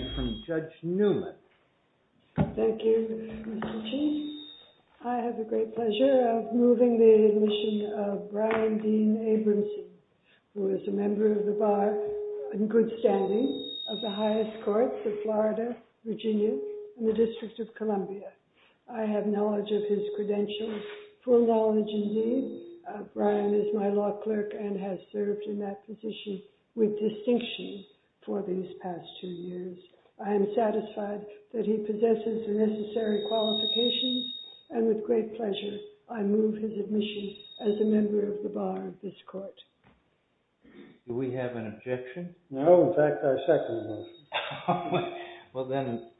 I have the great pleasure of moving the admission of Brian Dean Abramson, who is a member of the bar in good standing of the highest courts of Florida, Virginia, in the District of Columbia. I have knowledge of his credentials, full knowledge indeed, Brian is my law clerk and has served in that position with distinction for these past two years. I am satisfied that he possesses the necessary qualifications, and with great pleasure I move his admission as a member of the bar of this court. Do we have an objection? No, in fact I second the motion. Well then,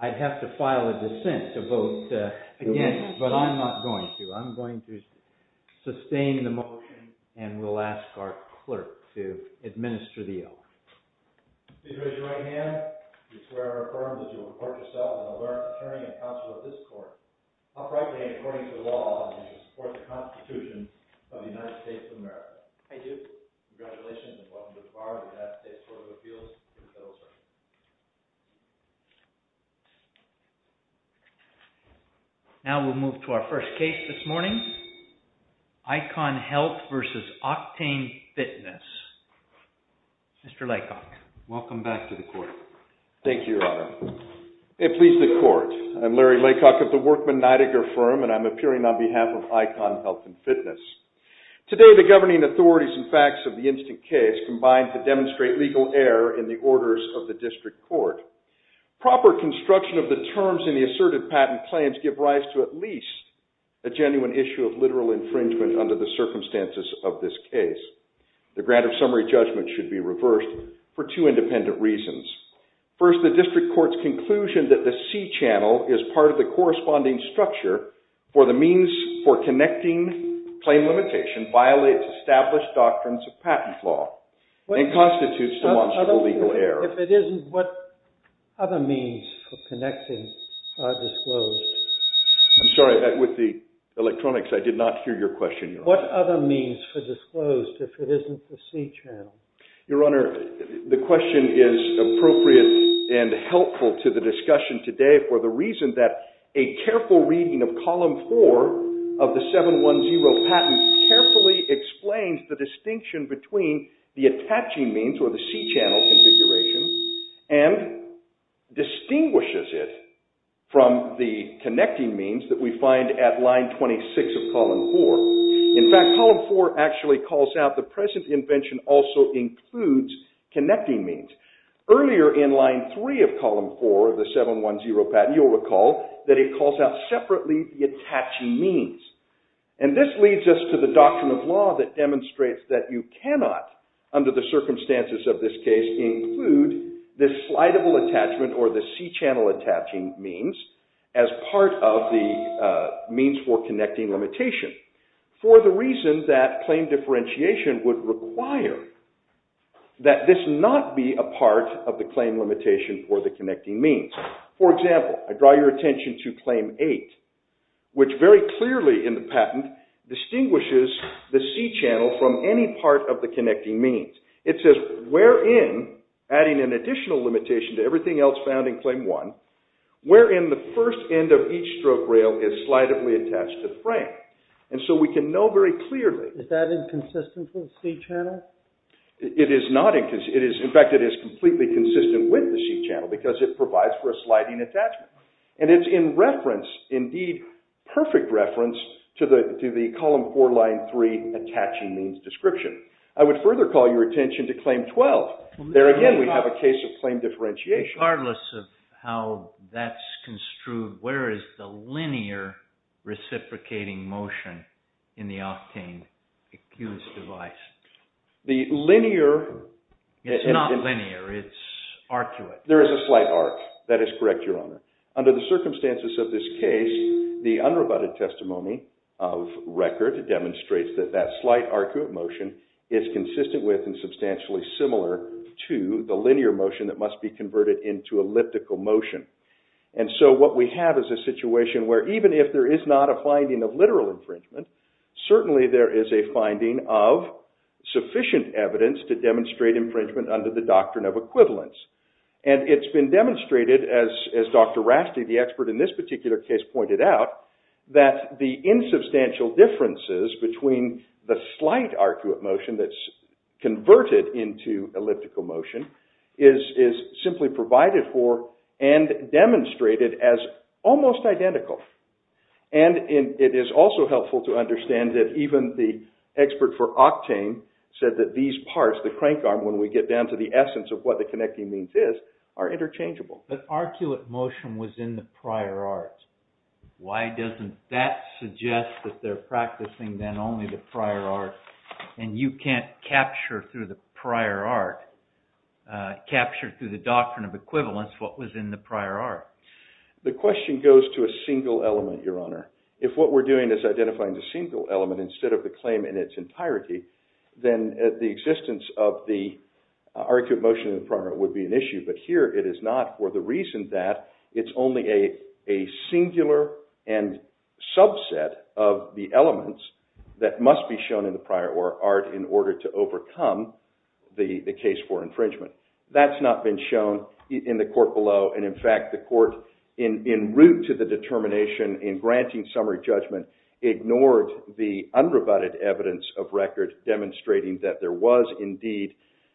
I'd have to file a dissent to vote against, but I'm not going to. I'm going to sustain the motion and we'll ask our clerk to administer the election. If you would raise your right hand, we swear and affirm that you will report yourself as an alert attorney and counsel of this court, uprightly and according to the law, and that you will support the Constitution of the United States of America. I do. Congratulations and welcome to the bar of the United States Court of Appeals. Now we'll move to our first case this morning, Icon Health versus Octane Fitness. Mr. Laycock. Welcome back to the court. Thank you, Your Honor. It pleases the court. I'm Larry Laycock of the Workman Nidegger Firm and I'm appearing on behalf of Icon Health and Fitness. Today the governing authorities and facts of the instant case combine to demonstrate legal error in the orders of the district court. Proper construction of the terms in the asserted patent claims give rise to at least a genuine issue of literal infringement under the circumstances of this case. The grant of summary judgment should be reversed for two independent reasons. First, the district court's conclusion that the C-channel is part of the corresponding structure for the means for connecting claim limitation violates established doctrines of patent law and constitutes the monster of legal error. If it isn't, what other means for connecting are disclosed? I'm sorry, with the electronics, I did not hear your question, Your Honor. What other means for disclosed if it isn't the C-channel? Your Honor, the question is appropriate and helpful to the discussion today for the reason that a careful reading of column 4 of the 710 patent carefully explains the distinction between the attaching means or the C-channel configuration and distinguishes it from the connecting means that we find at line 26 of column 4. In fact, column 4 actually calls out the present invention also includes connecting means. Earlier in line 3 of column 4 of the 710 patent, you'll recall that it calls out separately the attaching means. And this leads us to the doctrine of law that demonstrates that you cannot, under the circumstances of this case, include the slidable attachment or the C-channel attaching means as part of the means for connecting limitation. For the reason that claim differentiation would require that this not be a part of the claim limitation for the connecting means. For example, I draw your attention to claim 8, which very clearly in the patent distinguishes the C-channel from any part of the connecting means. It says, wherein, adding an additional limitation to everything else found in claim 1, wherein the first end of each stroke rail is slidably attached to the frame. And so we can know very clearly... Is that inconsistent with the C-channel? It is not inconsistent. In fact, it is completely consistent with the C-channel because it provides for a sliding attachment. And it's in reference, indeed perfect reference, to the column 4 line 3 attaching means description. I would further call your attention to claim 12. There again we have a case of claim differentiation. Regardless of how that's construed, where is the linear reciprocating motion in the octane accused device? The linear... It's not linear. It's arcuate. There is a slight arc. That is correct, Your Honor. Under the circumstances of this case, the unrebutted testimony of record demonstrates that that slight arcuate motion is consistent with and substantially similar to the linear motion that must be converted into elliptical motion. And so what we have is a situation where even if there is not a finding of literal infringement, certainly there is a finding of sufficient evidence to demonstrate infringement under the doctrine of equivalence. And it's been demonstrated, as Dr. Rasti, the expert in this particular case, pointed out, that the insubstantial differences between the slight arcuate motion that's converted into elliptical motion is simply provided for and demonstrated as almost identical. And it is also helpful to understand that even the expert for octane said that these parts, the crank arm, when we get down to the essence of what the connecting means is, are interchangeable. But arcuate motion was in the prior art. Why doesn't that suggest that they're practicing then only the prior art and you can't capture through the prior art, capture through the doctrine of equivalence, what was in the prior art? The question goes to a single element, Your Honor. If what we're doing is identifying the single element instead of the claim in its entirety, then the existence of the arcuate motion in the prior art would be an issue. But here it is not for the reason that it's only a singular and subset of the elements that must be shown in the prior art in order to overcome the case for infringement. That's not been shown in the court below. And in fact, the court, in route to the determination in granting summary judgment, ignored the unrebutted evidence of record demonstrating that there was indeed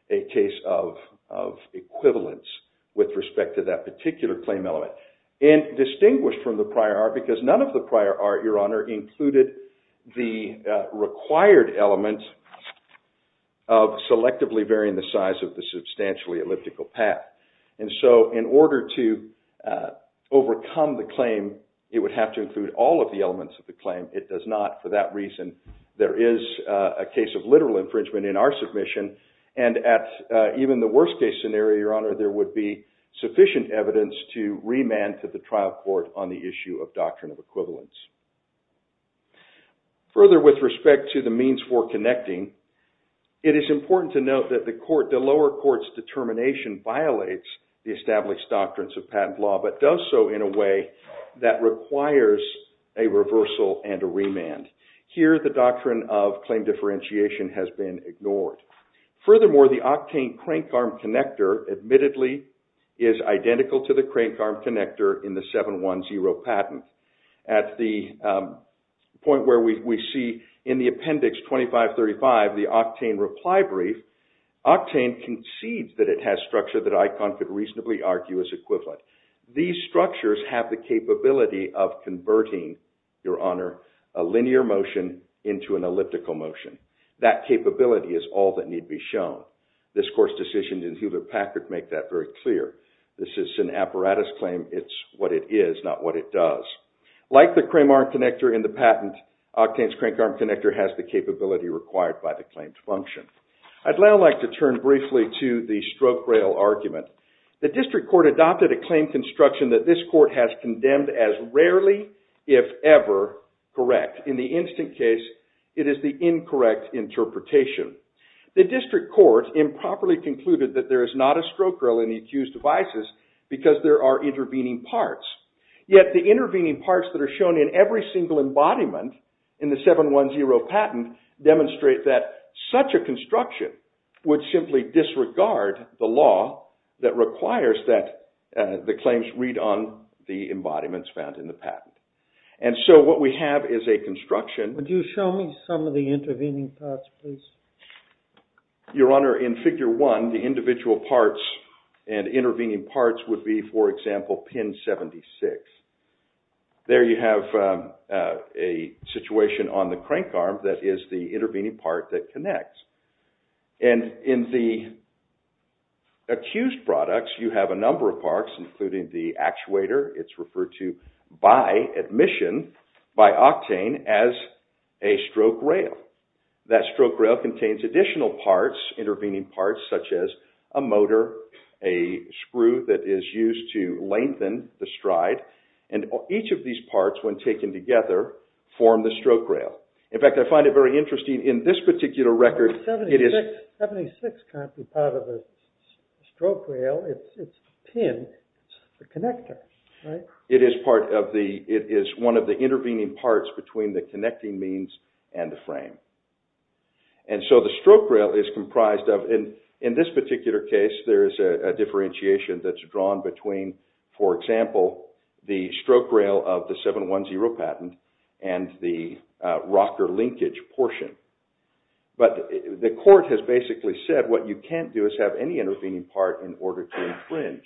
a case of equivalence with respect to that particular claim element. And distinguished from the prior art, because none of the prior art, Your Honor, included the required element of selectively varying the size of the substantially elliptical path. And so in order to overcome the claim, it would have to include all of the elements of the claim. It does not. For that reason, there is a case of literal infringement in our submission. And at even the worst case scenario, Your Honor, there would be sufficient evidence to remand to the trial court on the issue of doctrine of equivalence. Further, with respect to the means for connecting, it is important to note that the lower court's determination violates the established doctrines of patent law, but does so in a way that requires a reversal and a remand. Here, the doctrine of claim differentiation has been ignored. Furthermore, the octane crank arm connector admittedly is identical to the crank arm connector in the 710 patent. At the point where we see in the appendix 2535, the octane reply brief, octane concedes that it has structure that ICON could reasonably argue is equivalent. These structures have the capability of converting, Your Honor, a linear motion into an elliptical motion. That capability is all that need be shown. This court's decision in Hewlett-Packard make that very clear. This is an apparatus claim. It's what it is, not what it does. Like the crane arm connector in the patent, octane's crank arm connector has the capability required by the claimed function. I'd now like to turn briefly to the stroke rail argument. The district court adopted a claim construction that this court has condemned as rarely, if ever, correct. In the instant case, it is the incorrect interpretation. The district court improperly concluded that there is not a stroke rail in the accused devices because there are intervening parts. Yet the intervening parts that are shown in every single embodiment in the 710 patent demonstrate that such a construction would simply disregard the law that requires that the claims read on the embodiments found in the patent. And so what we have is a construction. Could you show me some of the intervening parts, please? Your Honor, in Figure 1, the individual parts and intervening parts would be, for example, pin 76. There you have a situation on the crank arm that is the intervening part that connects. And in the accused products, you have a number of parts, including the actuator. It's referred to by admission, by octane, as a stroke rail. That stroke rail contains additional parts, intervening parts, such as a motor, a screw that is used to lengthen the stride. And each of these parts, when taken together, form the stroke rail. In fact, I find it very interesting. In this particular record, it is… 76 can't be part of the stroke rail. It's the pin. It's the connector, right? It is one of the intervening parts between the connecting means and the frame. And so the stroke rail is comprised of… In this particular case, there is a differentiation that's drawn between, for example, the stroke rail of the 710 patent and the rocker linkage portion. But the court has basically said what you can't do is have any intervening part in order to infringe.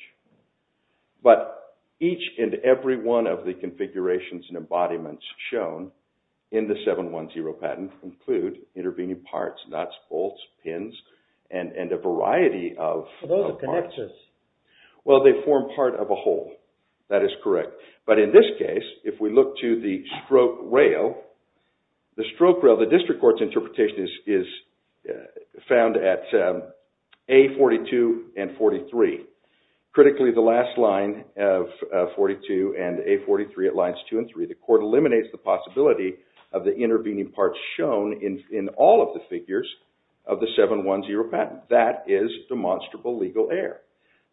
But each and every one of the configurations and embodiments shown in the 710 patent include intervening parts, nuts, bolts, pins, and a variety of parts. Well, they form part of a whole. That is correct. But in this case, if we look to the stroke rail, the stroke rail, the district court's interpretation is found at A42 and 43. Critically, the last line of 42 and A43 at lines 2 and 3, the court eliminates the possibility of the intervening parts shown in all of the figures of the 710 patent. That is demonstrable legal error.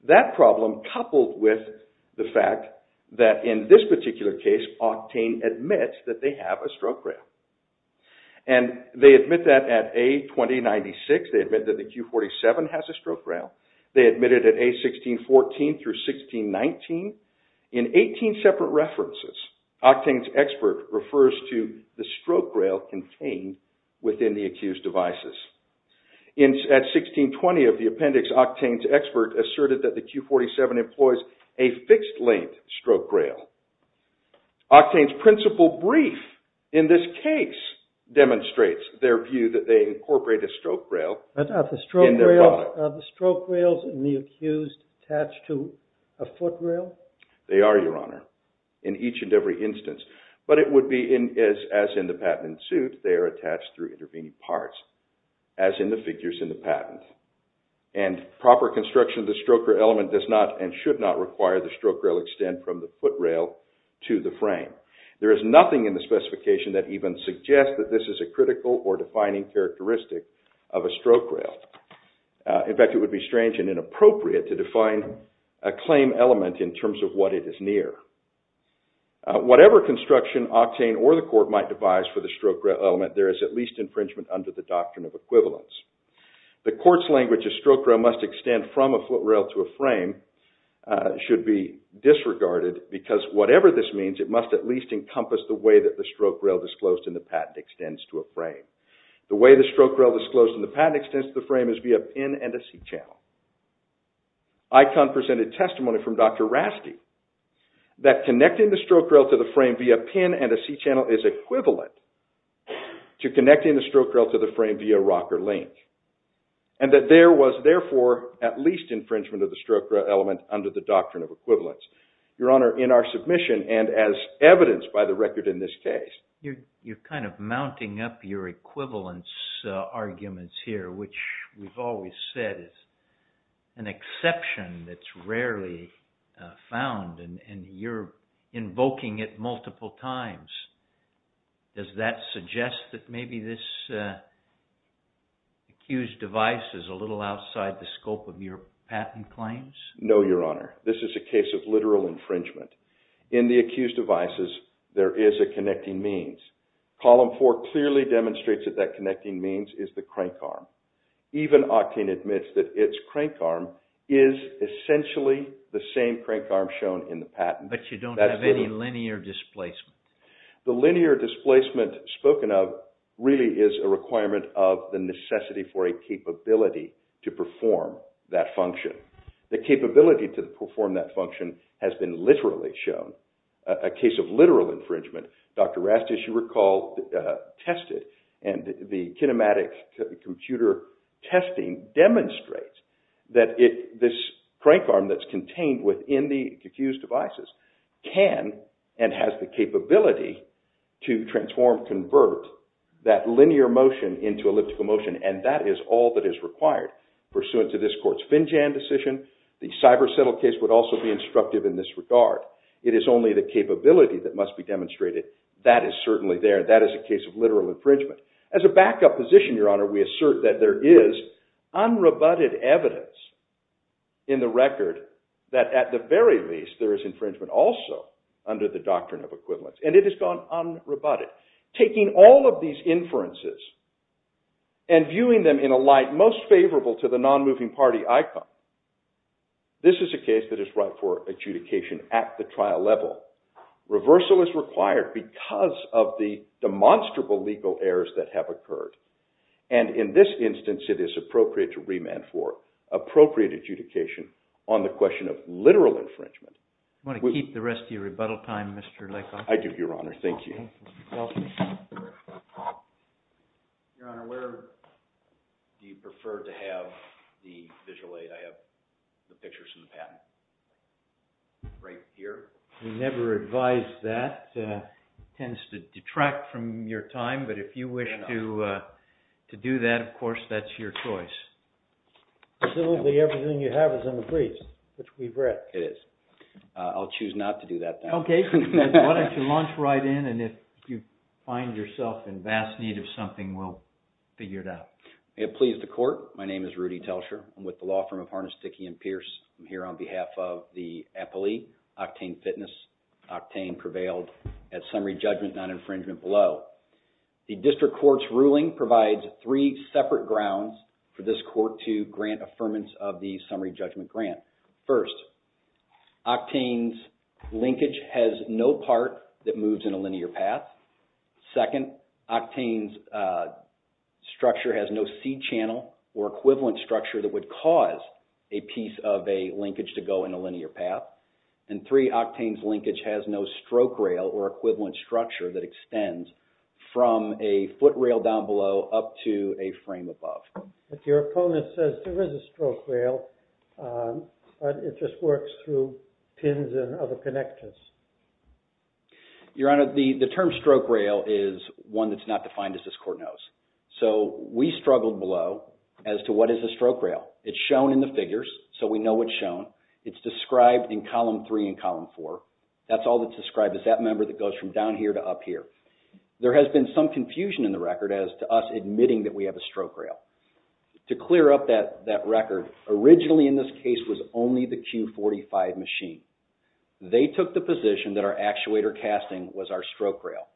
That problem coupled with the fact that in this particular case, Octane admits that they have a stroke rail. And they admit that at A2096. They admit that the Q47 has a stroke rail. They admit it at A1614 through 1619. In 18 separate references, Octane's expert refers to the stroke rail contained within the accused devices. At 1620 of the appendix, Octane's expert asserted that the Q47 employs a fixed-length stroke rail. Octane's principle brief in this case demonstrates their view that they incorporate a stroke rail. Are the stroke rails in the accused attached to a foot rail? They are, Your Honor, in each and every instance. But it would be as in the patent in suit, they are attached through intervening parts, as in the figures in the patent. And proper construction of the stroke rail element does not and should not require the stroke rail extend from the foot rail to the frame. There is nothing in the specification that even suggests that this is a critical or defining characteristic of a stroke rail. In fact, it would be strange and inappropriate to define a claim element in terms of what it is near. Whatever construction Octane or the court might devise for the stroke rail element, there is at least infringement under the doctrine of equivalence. The court's language that a stroke rail must extend from a foot rail to a frame should be disregarded, because whatever this means, it must at least encompass the way that the stroke rail disclosed in the patent extends to a frame. The way the stroke rail disclosed in the patent extends to the frame is via pin and a C-channel. Icon presented testimony from Dr. Rasky that connecting the stroke rail to the frame via pin and a C-channel is equivalent to connecting the stroke rail to the frame via rocker link. And that there was, therefore, at least infringement of the stroke rail element under the doctrine of equivalence. Your Honor, in our submission and as evidenced by the record in this case. You're kind of mounting up your equivalence arguments here, which we've always said is an exception that's rarely found, and you're invoking it multiple times. Does that suggest that maybe this accused device is a little outside the scope of your patent claims? No, Your Honor. This is a case of literal infringement. In the accused devices, there is a connecting means. Column four clearly demonstrates that that connecting means is the crank arm. Even Octane admits that its crank arm is essentially the same crank arm shown in the patent. But you don't have any linear displacement. The linear displacement spoken of really is a requirement of the necessity for a capability to perform that function. The capability to perform that function has been literally shown. A case of literal infringement, Dr. Rastish, you recall, tested. And the kinematic computer testing demonstrates that this crank arm that's contained within the accused devices can and has the capability to transform, convert that linear motion into elliptical motion. And that is all that is required pursuant to this court's Finjan decision. The Cyber Settle case would also be instructive in this regard. It is only the capability that must be demonstrated. That is certainly there. That is a case of literal infringement. As a backup position, Your Honor, we assert that there is unrebutted evidence in the record that at the very least there is infringement also under the doctrine of equivalence. And it has gone unrebutted. Taking all of these inferences and viewing them in a light most favorable to the non-moving party icon, this is a case that is right for adjudication at the trial level. Reversal is required because of the demonstrable legal errors that have occurred. And in this instance, it is appropriate to remand for appropriate adjudication on the question of literal infringement. I want to keep the rest of your rebuttal time, Mr. Leckoff. I do, Your Honor. Thank you. Your Honor, where do you prefer to have the visual aid? I have the pictures in the patent right here. We never advise that. It tends to detract from your time. But if you wish to do that, of course, that's your choice. So everything you have is in the briefs, which we've read. It is. I'll choose not to do that. Okay. Why don't you launch right in, and if you find yourself in vast need of something, we'll figure it out. May it please the Court. My name is Rudy Telcher. I'm with the law firm of Harness, Dickey & Pierce. I'm here on behalf of the APALEE, Octane Fitness. Octane prevailed at summary judgment non-infringement below. The district court's ruling provides three separate grounds for this court to grant affirmance of the summary judgment grant. First, Octane's linkage has no part that moves in a linear path. Second, Octane's structure has no C-channel or equivalent structure that would cause a piece of a linkage to go in a linear path. And three, Octane's linkage has no stroke rail or equivalent structure that extends from a foot rail down below up to a frame above. But your opponent says there is a stroke rail, but it just works through pins and other connectors. Your Honor, the term stroke rail is one that's not defined as this court knows. So we struggled below as to what is a stroke rail. It's shown in the figures, so we know what's shown. It's described in column three and column four. That's all that's described is that member that goes from down here to up here. There has been some confusion in the record as to us admitting that we have a stroke rail. To clear up that record, originally in this case was only the Q45 machine. They took the position that our actuator casting was our stroke rail.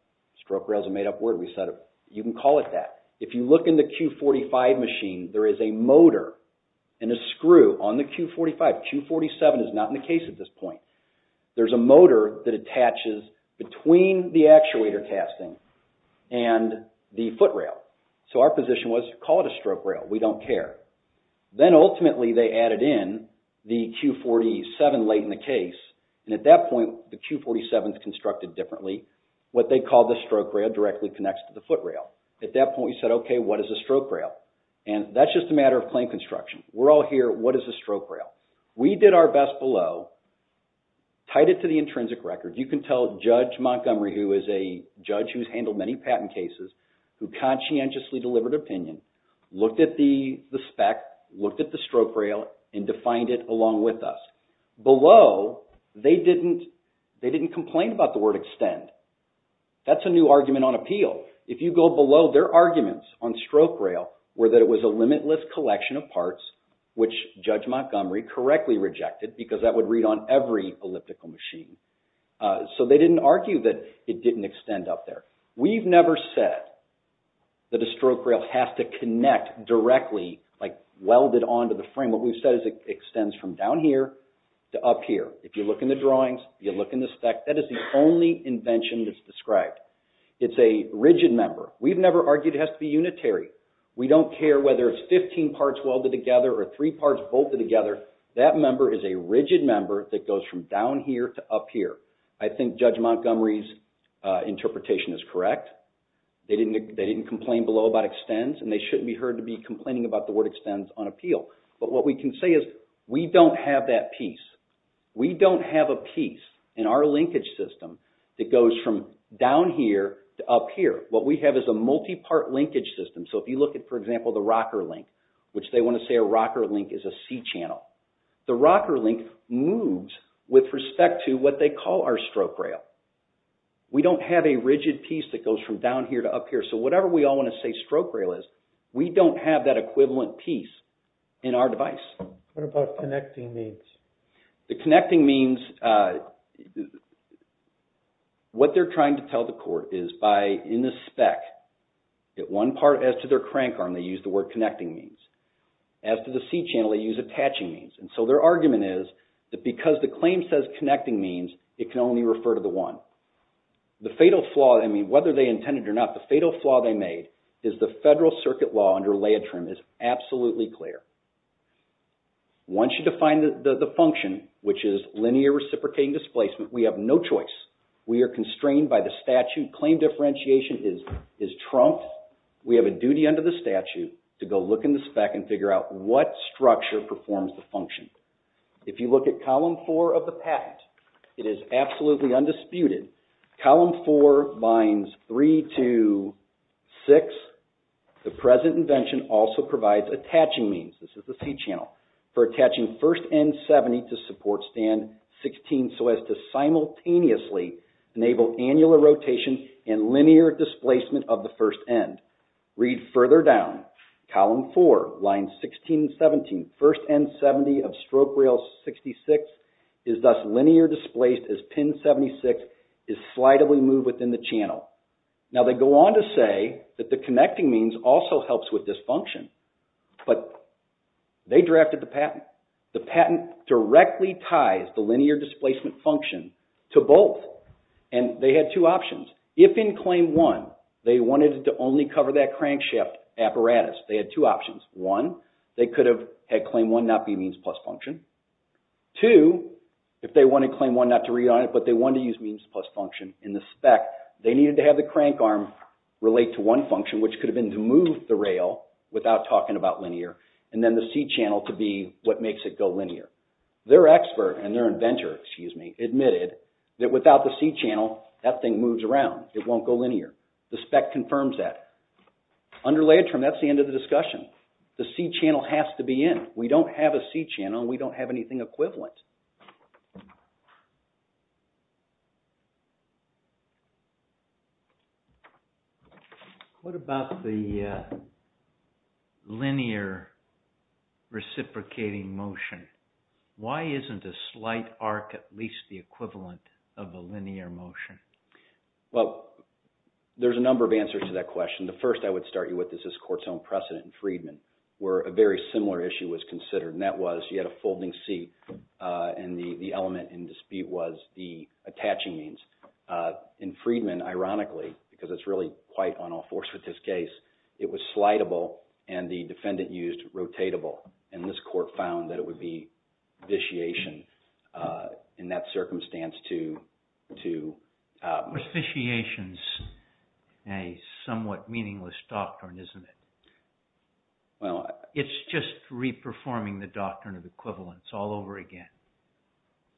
Stroke rail is a made up word. We said you can call it that. If you look in the Q45 machine, there is a motor and a screw on the Q45. Q47 is not in the case at this point. There is a motor that attaches between the actuator casting and the foot rail. So our position was call it a stroke rail. We don't care. Then ultimately, they added in the Q47 late in the case. At that point, the Q47 is constructed differently. What they call the stroke rail directly connects to the foot rail. At that point, we said okay, what is a stroke rail? That's just a matter of plain construction. We're all here, what is a stroke rail? We did our best below, tied it to the intrinsic record. You can tell Judge Montgomery, who is a judge who has handled many patent cases, who conscientiously delivered opinion, looked at the spec, looked at the stroke rail, and defined it along with us. Below, they didn't complain about the word extend. That's a new argument on appeal. If you go below, their arguments on stroke rail were that it was a limitless collection of parts, which Judge Montgomery correctly rejected, because that would read on every elliptical machine. So they didn't argue that it didn't extend up there. We've never said that a stroke rail has to connect directly, like welded onto the frame. What we've said is it extends from down here to up here. If you look in the drawings, you look in the spec, that is the only invention that's described. It's a rigid member. We've never argued it has to be unitary. We don't care whether it's 15 parts welded together or 3 parts bolted together. That member is a rigid member that goes from down here to up here. I think Judge Montgomery's interpretation is correct. They didn't complain below about extends, and they shouldn't be heard to be complaining about the word extends on appeal. But what we can say is we don't have that piece. We don't have a piece in our linkage system that goes from down here to up here. What we have is a multi-part linkage system. So if you look at, for example, the rocker link, which they want to say a rocker link is a C channel. The rocker link moves with respect to what they call our stroke rail. We don't have a rigid piece that goes from down here to up here. So whatever we all want to say stroke rail is, we don't have that equivalent piece in our device. What about connecting means? The connecting means what they're trying to tell the court is by in the spec, at one part as to their crank arm, they use the word connecting means. As to the C channel, they use attaching means. And so their argument is that because the claim says connecting means, it can only refer to the one. The fatal flaw, I mean, whether they intended it or not, the fatal flaw they made is the federal circuit law under Leitrim is absolutely clear. Once you define the function, which is linear reciprocating displacement, we have no choice. We are constrained by the statute. Claim differentiation is trumped. We have a duty under the statute to go look in the spec and figure out what structure performs the function. If you look at column four of the patent, it is absolutely undisputed. Column four binds three to six. The present invention also provides attaching means. This is the C channel. For attaching first end 70 to support stand 16, so as to simultaneously enable annular rotation and linear displacement of the first end. Read further down. Column four, line 16 and 17, first end 70 of stroke rail 66 is thus linear displaced as pin 76 is slightly moved within the channel. Now they go on to say that the connecting means also helps with this function. But they drafted the patent. The patent directly ties the linear displacement function to both. And they had two options. If in claim one, they wanted to only cover that crankshaft apparatus, they had two options. One, they could have had claim one not be means plus function. Two, if they wanted claim one not to read on it, but they wanted to use means plus function in the spec, they needed to have the crank arm relate to one function, which could have been to move the rail without talking about linear, and then the C channel to be what makes it go linear. Their expert, and their inventor, excuse me, admitted that without the C channel, that thing moves around. It won't go linear. The spec confirms that. Under layered trim, that's the end of the discussion. The C channel has to be in. We don't have a C channel. We don't have anything equivalent. What about the linear reciprocating motion? Why isn't a slight arc at least the equivalent of a linear motion? Well, there's a number of answers to that question. The first I would start you with is this court's own precedent in Friedman where a very similar issue was considered, and that was you had a folding seat. The element in dispute was the attaching means. In Friedman, ironically, because it's really quite on all fours with this case, it was slidable, and the defendant used rotatable. This court found that it would be vitiation in that circumstance to… Vitiation's a somewhat meaningless doctrine, isn't it? It's just re-performing the doctrine of equivalence all over again.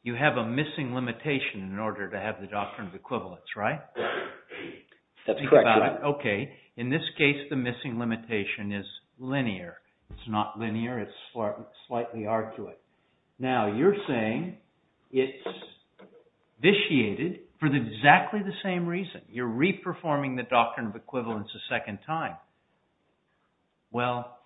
You have a missing limitation in order to have the doctrine of equivalence, right? That's correct. Okay. In this case, the missing limitation is linear. It's not linear. It's slightly arc to it. Now, you're saying it's vitiated for exactly the same reason. You're re-performing the doctrine of equivalence a second time. Well,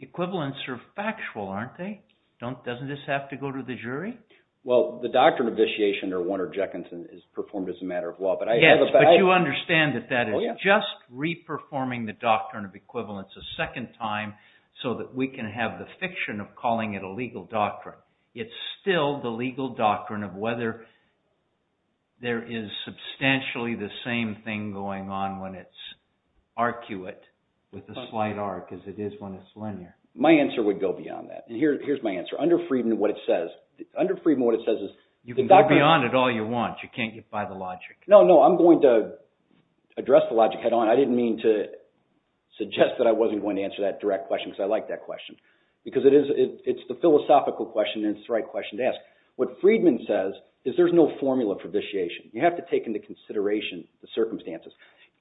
equivalence are factual, aren't they? Doesn't this have to go to the jury? Well, the doctrine of vitiation or one or Jekynton is performed as a matter of law. Yes, but you understand that that is just re-performing the doctrine of equivalence a second time so that we can have the fiction of calling it a legal doctrine. It's still the legal doctrine of whether there is substantially the same thing going on when it's arcuate with a slight arc as it is when it's linear. My answer would go beyond that, and here's my answer. Under Friedman, what it says is… You can go beyond it all you want. You can't get by the logic. No, no. I'm going to address the logic head on. I didn't mean to suggest that I wasn't going to answer that direct question because I like that question. Because it's the philosophical question, and it's the right question to ask. What Friedman says is there's no formula for vitiation. You have to take into consideration the circumstances.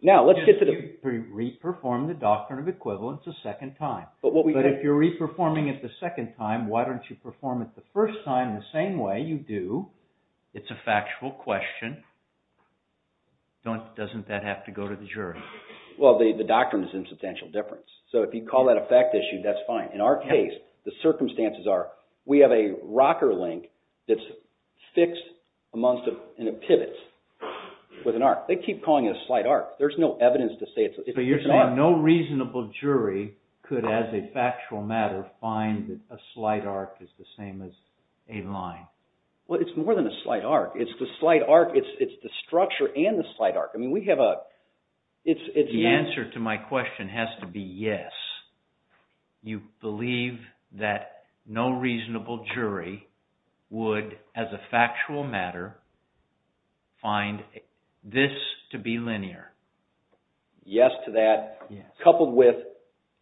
Now, let's get to the… You re-perform the doctrine of equivalence a second time. But if you're re-performing it the second time, why don't you perform it the first time the same way you do? It's a factual question. Doesn't that have to go to the jury? Well, the doctrine is in substantial difference. So if you call that a fact issue, that's fine. In our case, the circumstances are we have a rocker link that's fixed and it pivots with an arc. They keep calling it a slight arc. There's no evidence to say it's an arc. But you're saying no reasonable jury could, as a factual matter, find that a slight arc is the same as a line. Well, it's more than a slight arc. It's the slight arc. It's the structure and the slight arc. I mean, we have a… The answer to my question has to be yes. You believe that no reasonable jury would, as a factual matter, find this to be linear. Yes to that. Coupled with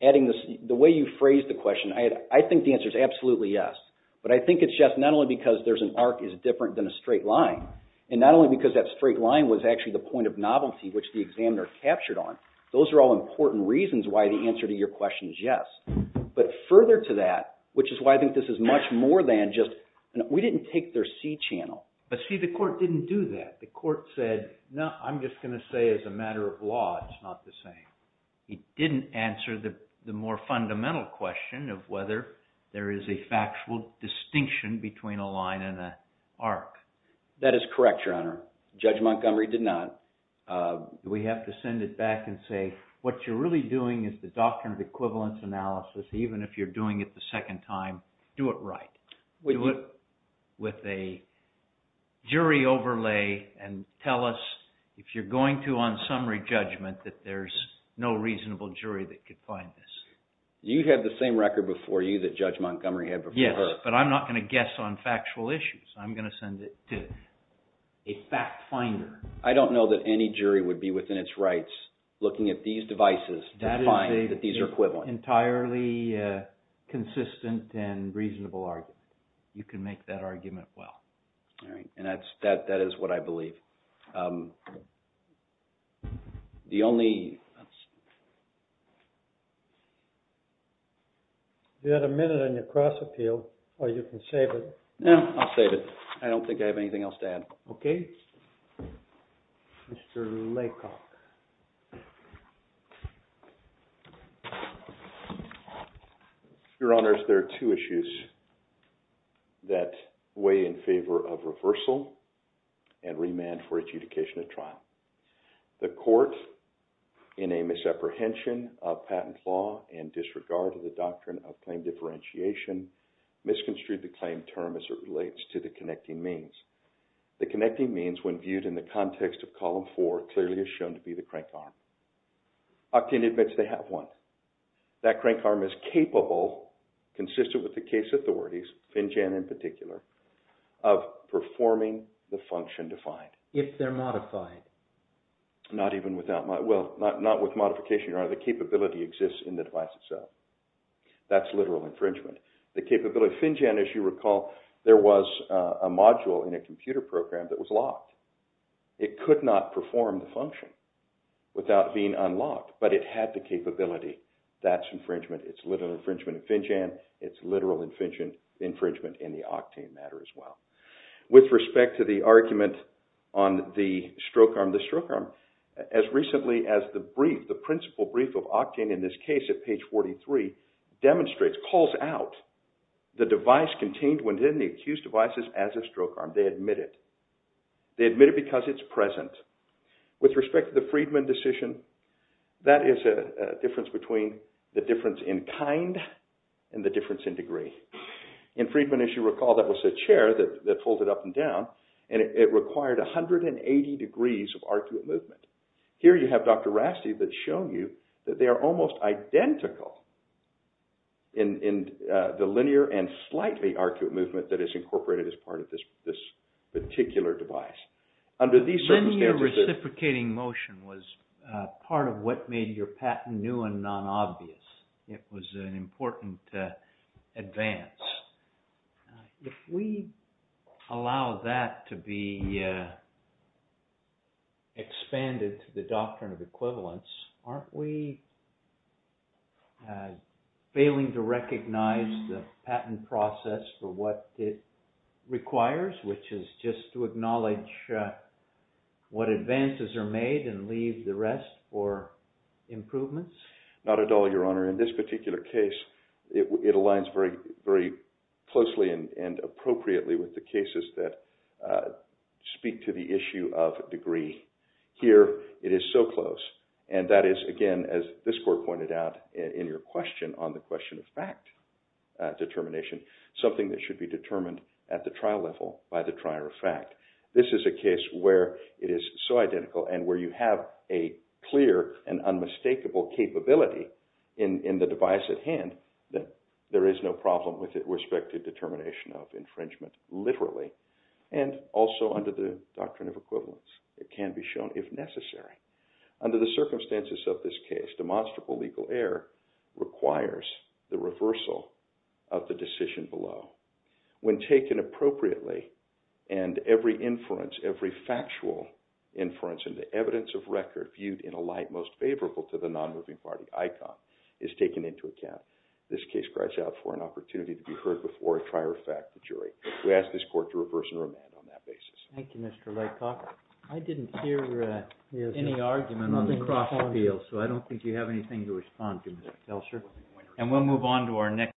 adding this… The way you phrased the question, I think the answer is absolutely yes. But I think it's just not only because there's an arc is different than a straight line, and not only because that straight line was actually the point of novelty which the examiner captured on. Those are all important reasons why the answer to your question is yes. But further to that, which is why I think this is much more than just – we didn't take their C channel. But see, the court didn't do that. The court said, no, I'm just going to say as a matter of law it's not the same. It didn't answer the more fundamental question of whether there is a factual distinction between a line and an arc. That is correct, Your Honor. Judge Montgomery did not. We have to send it back and say what you're really doing is the doctrine of equivalence analysis. Even if you're doing it the second time, do it right. Do it with a jury overlay and tell us if you're going to on summary judgment that there's no reasonable jury that could find this. You have the same record before you that Judge Montgomery had before her. Yes, but I'm not going to guess on factual issues. I'm going to send it to a fact finder. I don't know that any jury would be within its rights looking at these devices to find that these are equivalent. That is an entirely consistent and reasonable argument. You can make that argument well. All right. And that is what I believe. The only – You have a minute on your cross appeal or you can save it. I don't think I have anything else to add. Okay. Mr. Laycock. Your Honors, there are two issues that weigh in favor of reversal and remand for adjudication of trial. The court, in a misapprehension of patent law and disregard of the doctrine of claim differentiation, misconstrued the claim term as it relates to the connecting means. The connecting means, when viewed in the context of column four, clearly is shown to be the crank arm. Octane admits they have one. That crank arm is capable, consistent with the case authorities, Finjan in particular, of performing the function defined. If they're modified. Not even without – well, not with modification. The capability exists in the device itself. That's literal infringement. The capability – Finjan, as you recall, there was a module in a computer program that was locked. It could not perform the function without being unlocked. But it had the capability. That's infringement. It's literal infringement in Finjan. It's literal infringement in the Octane matter as well. With respect to the argument on the stroke arm, the stroke arm, as recently as the brief, the principal brief of Octane in this case at page 43, demonstrates, calls out the device contained within the accused devices as a stroke arm. They admit it. They admit it because it's present. With respect to the Friedman decision, that is a difference between the difference in kind and the difference in degree. In Friedman, as you recall, that was a chair that folded up and down, and it required 180 degrees of arcuate movement. Here you have Dr. Rasti that show you that they are almost identical in the linear and slightly arcuate movement that is incorporated as part of this particular device. Under these circumstances – Linear reciprocating motion was part of what made your patent new and non-obvious. It was an important advance. If we allow that to be expanded to the doctrine of equivalence, aren't we failing to recognize the patent process for what it requires, which is just to acknowledge what advances are made and leave the rest for improvements? Not at all, Your Honor. In this particular case, it aligns very closely and appropriately with the cases that speak to the issue of degree. Here, it is so close, and that is, again, as this Court pointed out in your question on the question of fact determination, something that should be determined at the trial level by the trier of fact. This is a case where it is so identical and where you have a clear and unmistakable capability in the device at hand that there is no problem with respect to determination of infringement, literally, and also under the doctrine of equivalence. It can be shown, if necessary. Under the circumstances of this case, demonstrable legal error requires the reversal of the decision below. When taken appropriately and every inference, every factual inference and the evidence of record viewed in a light most favorable to the non-moving party icon is taken into account, this case cries out for an opportunity to be heard before a trier of fact jury. We ask this Court to reverse and remand on that basis. Thank you, Mr. Laycock. I didn't hear any argument on the cross appeal, so I don't think you have anything to respond to, Mr. Kelser. And we'll move on to our next case.